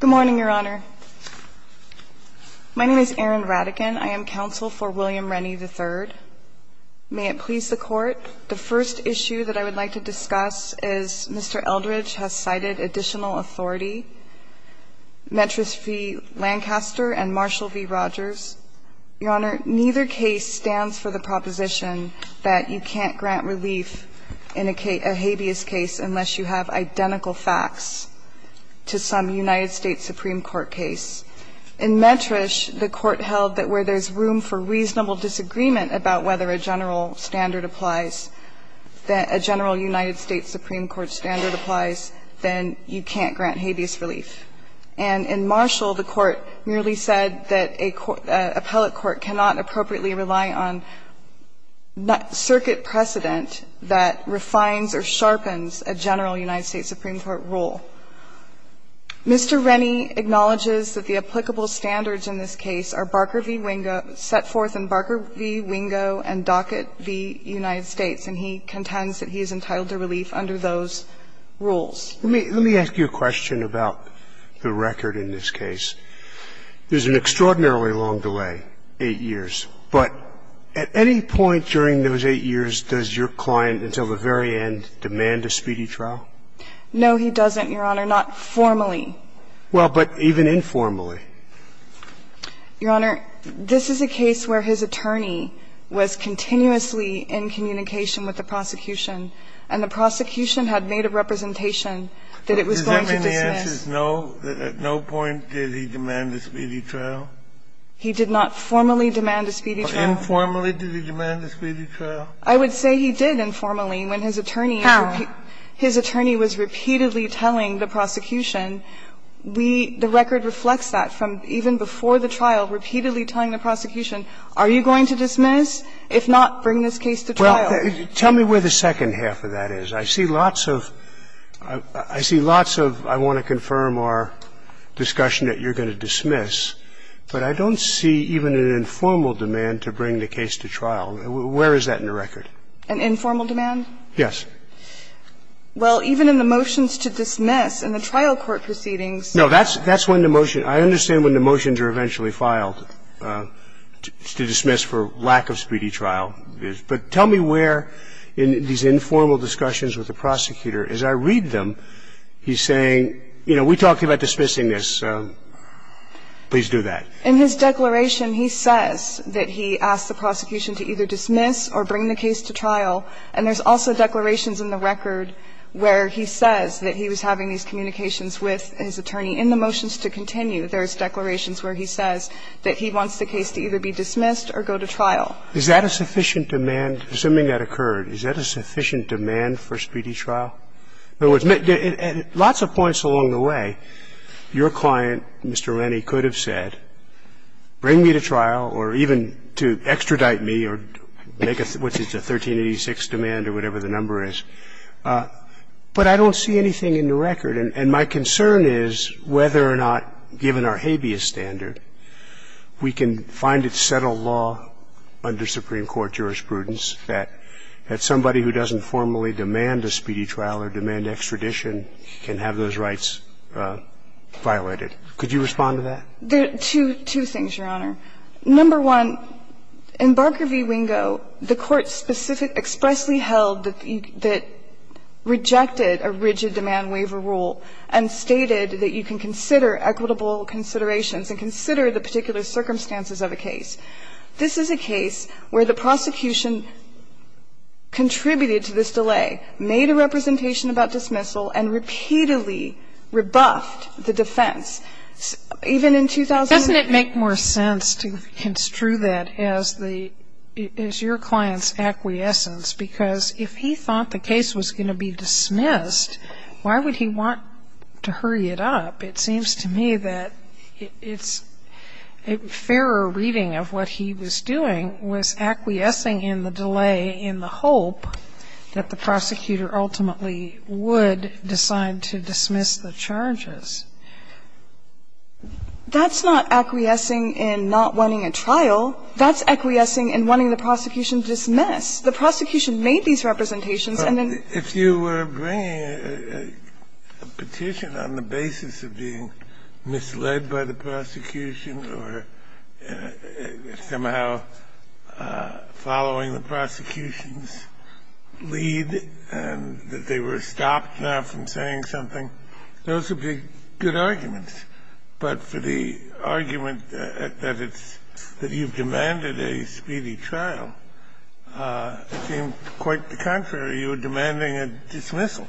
Good morning, Your Honor. My name is Erin Radigan. I am counsel for William Rennie, III. May it please the Court, the first issue that I would like to discuss is Mr. Eldridge has cited additional authority, Metris v. Lancaster and Marshall v. Rogers. Your Honor, neither case stands for the proposition that you can't grant relief in a habeas case unless you have identical facts to some United States Supreme Court case. In Metris, the Court held that where there's room for reasonable disagreement about whether a general standard applies, a general United States Supreme Court standard applies, then you can't grant habeas relief. And in Marshall, the Court merely said that an appellate court cannot appropriately rely on circuit precedent that refines or sharpens a general United States Supreme Court rule. Mr. Rennie acknowledges that the applicable standards in this case are Barker v. Wingo and Dockett v. United States, and he contends that he is entitled to relief under those rules. Let me ask you a question about the record in this case. There's an extraordinarily long delay, 8 years, but at any point during those 8 years, does your client until the very end demand a speedy trial? No, he doesn't, Your Honor, not formally. Well, but even informally. Your Honor, this is a case where his attorney was continuously in communication with the prosecution, and the prosecution had made a representation that it was going to dismiss. At no point did he demand a speedy trial? He did not formally demand a speedy trial. Informally, did he demand a speedy trial? I would say he did informally when his attorney was repeatedly telling the prosecution. We – the record reflects that from even before the trial, repeatedly telling the prosecution, are you going to dismiss? If not, bring this case to trial. Well, tell me where the second half of that is. I see lots of – I see lots of I want to confirm or discussion that you're going to dismiss, but I don't see even an informal demand to bring the case to trial. Where is that in the record? An informal demand? Yes. Well, even in the motions to dismiss, in the trial court proceedings. No, that's – that's when the motion – I understand when the motions are eventually filed to dismiss for lack of speedy trial. But tell me where in these informal discussions with the prosecutor, as I read them, he's saying, you know, we talked about dismissing this. Please do that. In his declaration, he says that he asked the prosecution to either dismiss or bring the case to trial. And there's also declarations in the record where he says that he was having these communications with his attorney. In the motions to continue, there's declarations where he says that he wants the case to either be dismissed or go to trial. Is that a sufficient demand, assuming that occurred? Is that a sufficient demand for a speedy trial? In other words, lots of points along the way, your client, Mr. Rennie, could have said, bring me to trial or even to extradite me or make a – what's it, a 1386 demand or whatever the number is. But I don't see anything in the record. And my concern is whether or not, given our habeas standard, we can find a settled law under Supreme Court jurisprudence that somebody who doesn't formally demand a speedy trial or demand extradition can have those rights violated. Could you respond to that? There are two things, Your Honor. Number one, in Barker v. Wingo, the Court specific – expressly held that you – that rejected a rigid demand waiver rule and stated that you can consider equitable considerations and consider the particular circumstances of a case. This is a case where the prosecution contributed to this delay, made a representation about dismissal, and repeatedly rebuffed the defense. Even in 2008 – Doesn't it make more sense to construe that as the – as your client's acquiescence? Because if he thought the case was going to be dismissed, why would he want to hurry it up? It seems to me that it's – a fairer reading of what he was doing was acquiescing in the delay in the hope that the prosecutor ultimately would decide to dismiss the charges. That's not acquiescing in not wanting a trial. That's acquiescing in wanting the prosecution to dismiss. The prosecution made these representations, and then – Sotomayor, I don't know if this is a petition on the basis of being misled by the prosecution or somehow following the prosecution's lead and that they were stopped now from saying something. Those would be good arguments. But for the argument that it's – that you've demanded a speedy trial, it seemed quite the contrary. You were demanding a dismissal.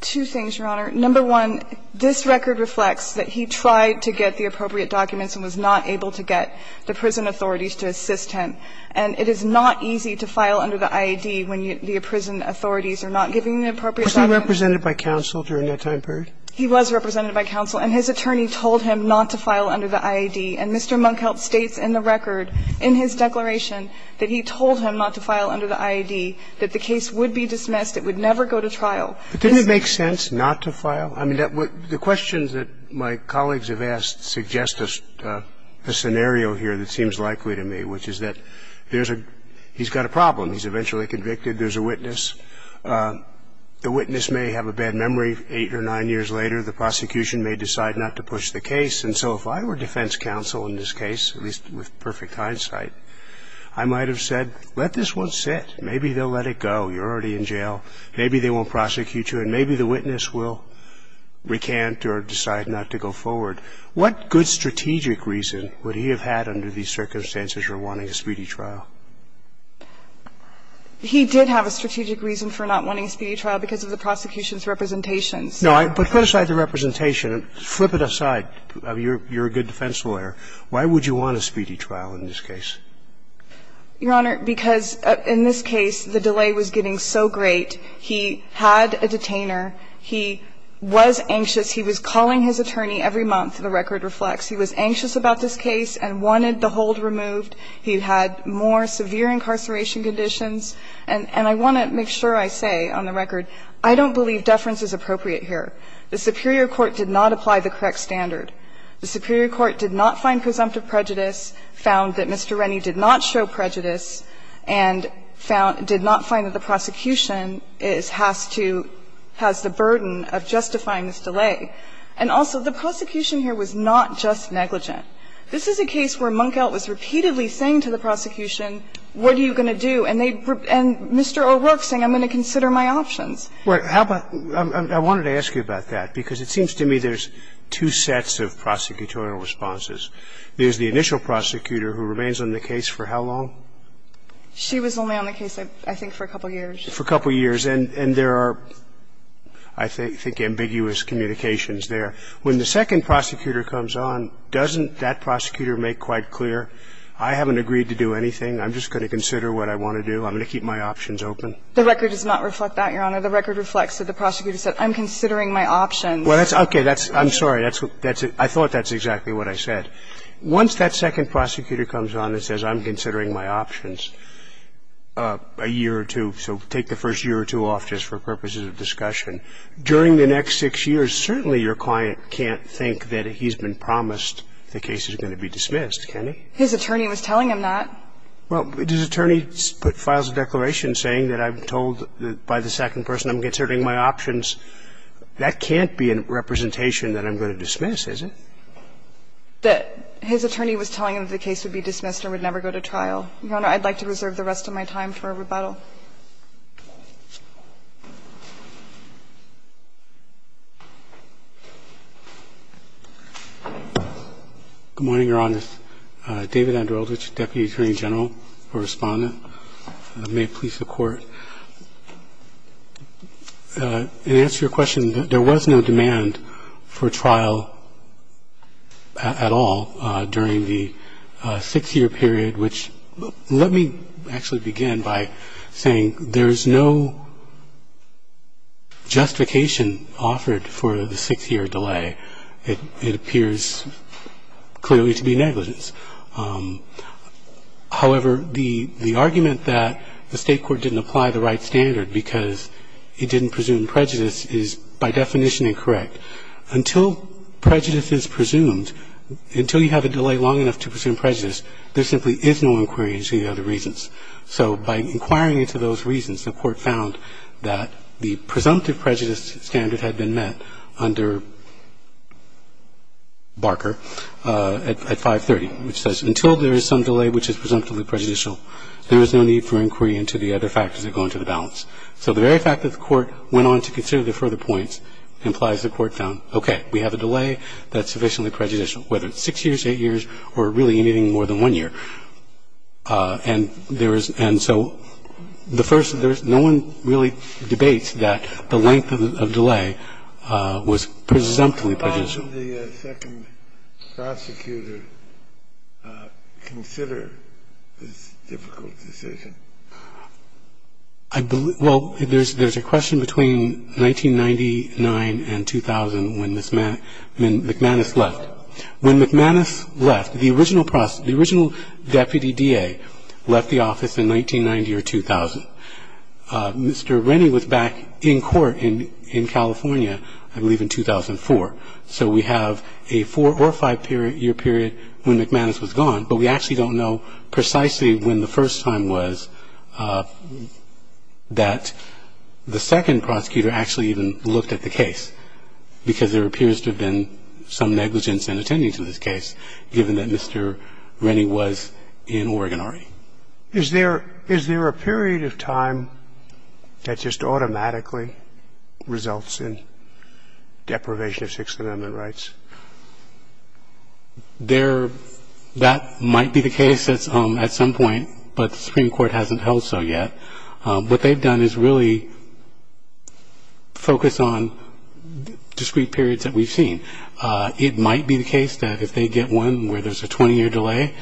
Two things, Your Honor. Number one, this record reflects that he tried to get the appropriate documents and was not able to get the prison authorities to assist him. And it is not easy to file under the IAD when the prison authorities are not giving the appropriate documents. Was he represented by counsel during that time period? He was represented by counsel, and his attorney told him not to file under the IAD. And Mr. Monk helped states in the record in his declaration that he told him not to file under the IAD, that the case would be dismissed, it would never go to trial. Didn't it make sense not to file? I mean, the questions that my colleagues have asked suggest a scenario here that seems likely to me, which is that there's a – he's got a problem. He's eventually convicted. There's a witness. The witness may have a bad memory. Eight or nine years later, the prosecution may decide not to push the case. And so if I were defense counsel in this case, at least with perfect hindsight, I might have said, let this one sit, maybe they'll let it go. You're already in jail. Maybe they won't prosecute you, and maybe the witness will recant or decide not to go forward. What good strategic reason would he have had under these circumstances for wanting a speedy trial? He did have a strategic reason for not wanting a speedy trial because of the prosecution's representations. No, but put aside the representation, flip it aside. You're a good defense lawyer. Why would you want a speedy trial in this case? Your Honor, because in this case, the delay was getting so great. He had a detainer. He was anxious. He was calling his attorney every month, the record reflects. He was anxious about this case and wanted the hold removed. He had more severe incarceration conditions. And I want to make sure I say on the record, I don't believe deference is appropriate here. The superior court did not apply the correct standard. The superior court did not find presumptive prejudice, found that Mr. Rennie did not show prejudice, and found – did not find that the prosecution is – has to – has the burden of justifying this delay. And also, the prosecution here was not just negligent. This is a case where Munkhout was repeatedly saying to the prosecution, what are you going to do? And they – and Mr. O'Rourke's saying, I'm going to consider my options. Well, how about – I wanted to ask you about that, because it seems to me there's two sets of prosecutorial responses. There's the initial prosecutor who remains on the case for how long? She was only on the case, I think, for a couple years. For a couple years. And there are, I think, ambiguous communications there. When the second prosecutor comes on, doesn't that prosecutor make quite clear, I haven't agreed to do anything, I'm just going to consider what I want to do, I'm going to keep my options open? The record does not reflect that, Your Honor. The record reflects that the prosecutor said, I'm considering my options. Well, that's – okay. That's – I'm sorry. That's – I thought that's exactly what I said. Once that second prosecutor comes on and says, I'm considering my options, a year or two, so take the first year or two off just for purposes of discussion, during the next six years, certainly your client can't think that he's been promised the case is going to be dismissed, can he? His attorney was telling him that. Well, does attorney put files of declaration saying that I'm told that by the second person I'm considering my options? That can't be a representation that I'm going to dismiss, is it? That his attorney was telling him that the case would be dismissed and would never go to trial. Your Honor, I'd like to reserve the rest of my time for rebuttal. Good morning, Your Honor. I'm going to start with David Andrelich, Deputy Attorney General for Respondent. May it please the Court. In answer to your question, there was no demand for trial at all during the six-year period, which – let me actually begin by saying there's no justification offered for the six-year delay. It appears clearly to be negligence. However, the argument that the State court didn't apply the right standard because it didn't presume prejudice is by definition incorrect. Until prejudice is presumed, until you have a delay long enough to presume prejudice, there simply is no inquiry into the other reasons. So by inquiring into those reasons, the Court found that the presumptive prejudice standard had been met under Barker at 530, which says until there is some delay which is presumptively prejudicial, there is no need for inquiry into the other factors that go into the balance. So the very fact that the Court went on to consider the further points implies the Court found, okay, we have a delay that's sufficiently prejudicial, whether it's six years, eight years, or really anything more than one year. And there is – and so the first – there's – no one really debates that the length of delay was presumptively prejudicial. Kennedy, on the second prosecutor, consider this difficult decision. I – well, there's a question between 1999 and 2000 when McManus left. When McManus left, the original – the original deputy DA left the office in 1990 or 2000. Mr. Rennie was back in court in California, I believe, in 2004. So we have a four- or five-year period when McManus was gone, but we actually don't know precisely when the first time was that the second prosecutor actually even looked at the case, because there appears to have been some negligence in attending to this case, given that Mr. Rennie was in Oregon already. Is there – is there a period of time that just automatically results in deprivation of Sixth Amendment rights? There – that might be the case at some point, but the Supreme Court hasn't held so yet. What they've done is really focus on discrete periods that we've seen. It might be the case that if they get one where there's a 20-year delay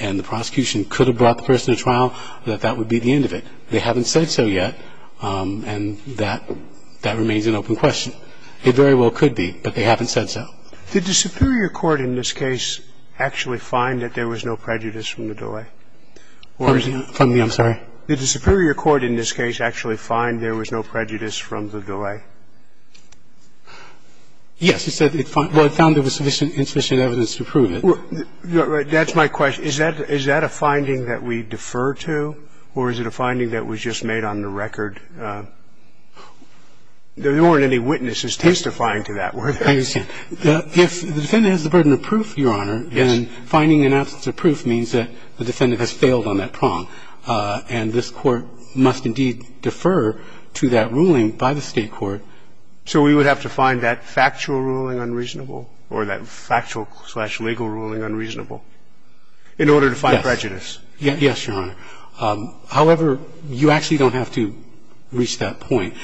and the prosecution could have brought the person to trial, that that would be the end of it. They haven't said so yet, and that – that remains an open question. It very well could be, but they haven't said so. Did the Superior Court in this case actually find that there was no prejudice from the delay? Or is it – Pardon me. I'm sorry. Did the Superior Court in this case actually find there was no prejudice from the delay? Yes. It said it found – well, it found there was sufficient – insufficient evidence to prove it. That's my question. Is that – is that a finding that we defer to, or is it a finding that was just made on the record? There weren't any witnesses testifying to that, were there? I understand. If the defendant has the burden of proof, Your Honor, and finding an absence of proof means that the defendant has failed on that prong, and this Court must indeed defer to that ruling by the State court. So we would have to find that factual ruling unreasonable, or that factual-slash-legal ruling unreasonable, in order to find prejudice? Yes, Your Honor. However, you actually don't have to reach that point.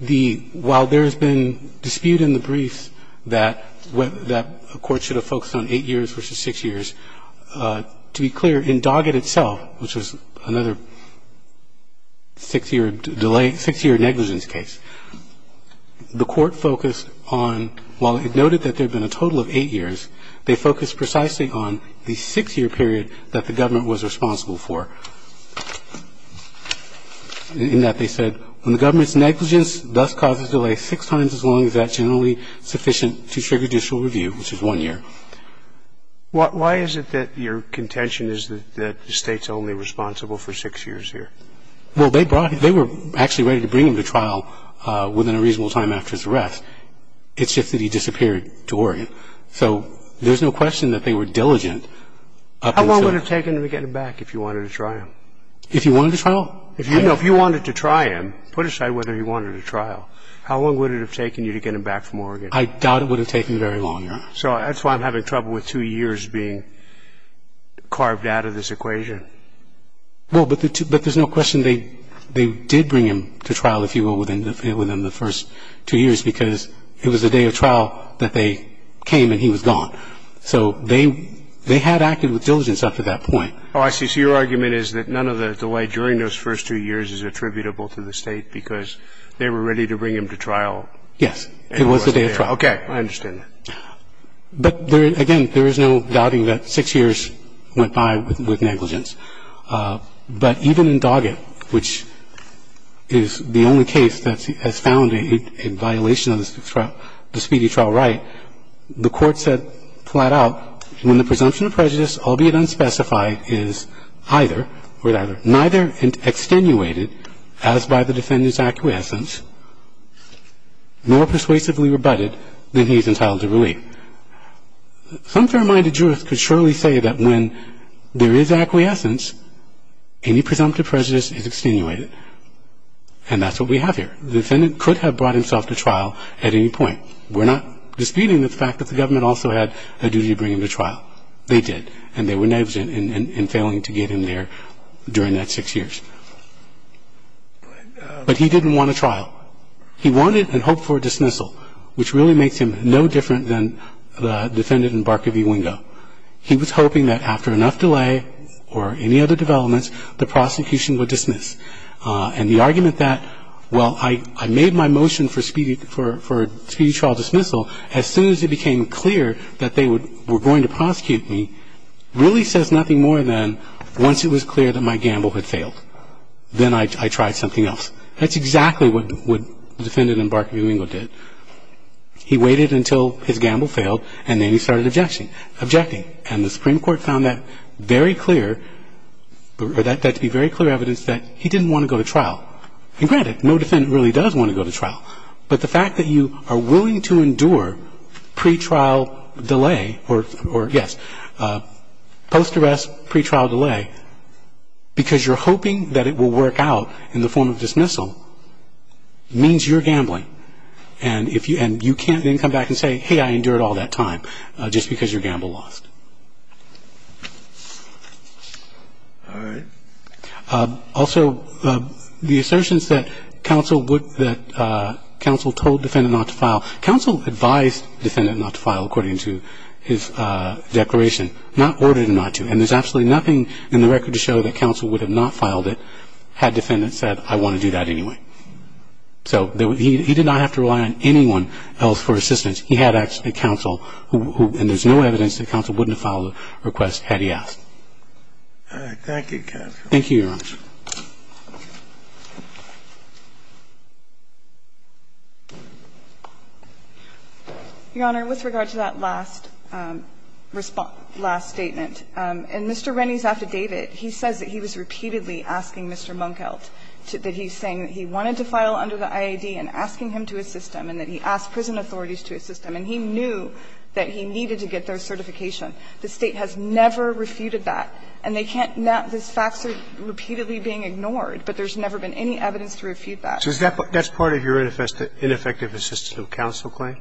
The – while there's been dispute in the briefs that – that a court should have focused on 8 years versus 6 years, to be clear, in Doggett itself, which was another 6-year delay – 6-year negligence case, the Court focused on – while it noted that there had been a total of 8 years, they focused precisely on the 6-year period that the government was responsible for. In that, they said, when the government's negligence thus causes delay six times as long as that's generally sufficient to trigger judicial review, which is one year. Why is it that your contention is that the State's only responsible for 6 years here? Well, they brought – they were actually ready to bring him to trial within a reasonable time after his arrest. It's just that he disappeared to Oregon. So there's no question that they were diligent up until – How long would it have taken to get him back if you wanted to try him? If you wanted to try him? If you – no, if you wanted to try him, put aside whether he wanted a trial, how long would it have taken you to get him back from Oregon? I doubt it would have taken very long, Your Honor. So that's why I'm having trouble with two years being carved out of this equation. Well, but there's no question they did bring him to trial, if you will, within the first two years, because it was the day of trial that they came and he was gone. So they had acted with diligence up to that point. Oh, I see. So your argument is that none of the delay during those first two years is attributable to the State because they were ready to bring him to trial? Yes. It was the day of trial. Okay. I understand that. But, again, there is no doubting that six years went by with negligence. But even in Doggett, which is the only case that has found a violation of the speedy trial right, the Court said flat out when the presumption of prejudice, albeit unspecified, is neither extenuated, as by the defendant's acquiescence, nor persuasively rebutted, then he is entitled to relief. Some fair-minded jurist could surely say that when there is acquiescence, any presumptive prejudice is extenuated. And that's what we have here. The defendant could have brought himself to trial at any point. We're not disputing the fact that the government also had a duty to bring him to trial. They did. And they were negligent in failing to get him there during that six years. But he didn't want a trial. He wanted and hoped for a dismissal, which really makes him no different than the defendant in Barker v. Wingo. He was hoping that after enough delay or any other developments, the prosecution would dismiss. And the argument that, well, I made my motion for a speedy trial dismissal as soon as it became clear that they were going to prosecute me really says nothing more than once it was clear that my gamble had failed, then I tried something else. That's exactly what the defendant in Barker v. Wingo did. He waited until his gamble failed, and then he started objecting. And the Supreme Court found that very clear, that to be very clear evidence that he didn't want to go to trial. And granted, no defendant really does want to go to trial. But the fact that you are willing to endure pre-trial delay or, yes, post-arrest pre-trial delay because you're hoping that it will work out in the form of dismissal means you're gambling. And you can't then come back and say, hey, I endured all that time just because your gamble lost. All right. Also, the assertions that counsel would, that counsel told defendant not to file, counsel advised defendant not to file according to his declaration, not ordered him not to. And there's absolutely nothing in the record to show that counsel would have not filed it had defendant said, I want to do that anyway. So he did not have to rely on anyone else for assistance. He had actually counsel who, and there's no evidence that counsel wouldn't have filed a request had he asked. Thank you, Your Honor. Your Honor, with regard to that last response, last statement, in Mr. Rennie's affidavit, he says that he was repeatedly asking Mr. Munkhout, that he's saying that he wanted to file under the IAD, and asking him to assist him, and that he asked prison authorities to assist him, and he knew that he needed to get their certification. The State has never refuted that. And they can't, this facts are repeatedly being ignored. But there's never been any evidence to refute that. So is that, that's part of your ineffective assistance of counsel claim?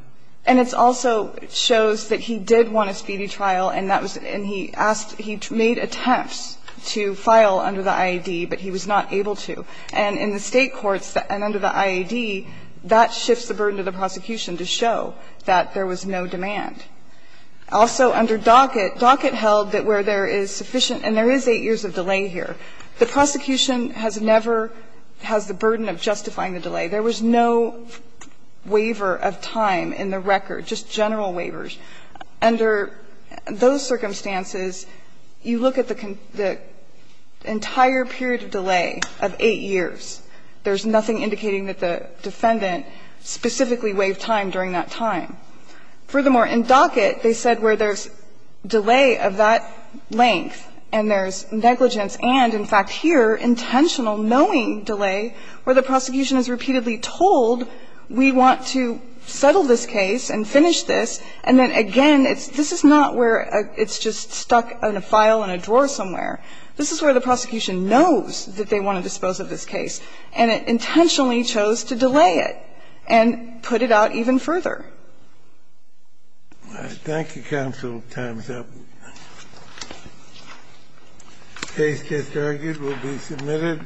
And it also shows that he did want a speedy trial, and that was, and he asked, he made attempts to file under the IAD, but he was not able to. And in the State courts, and under the IAD, that shifts the burden to the prosecution to show that there was no demand. Also, under Dockett, Dockett held that where there is sufficient, and there is 8 years of delay here, the prosecution has never, has the burden of justifying the delay. There was no waiver of time in the record, just general waivers. Under those circumstances, you look at the entire period of delay of 8 years. There's nothing indicating that the defendant specifically waived time during that time. Furthermore, in Dockett, they said where there's delay of that length, and there's negligence, and in fact here, intentional, knowing delay, where the prosecution is repeatedly told, we want to settle this case and finish this, and then again, this is not where it's just stuck in a file in a drawer somewhere. This is where the prosecution knows that they want to dispose of this case, and it intentionally chose to delay it and put it out even further. Thank you, counsel. Time's up. The case, as argued, will be submitted.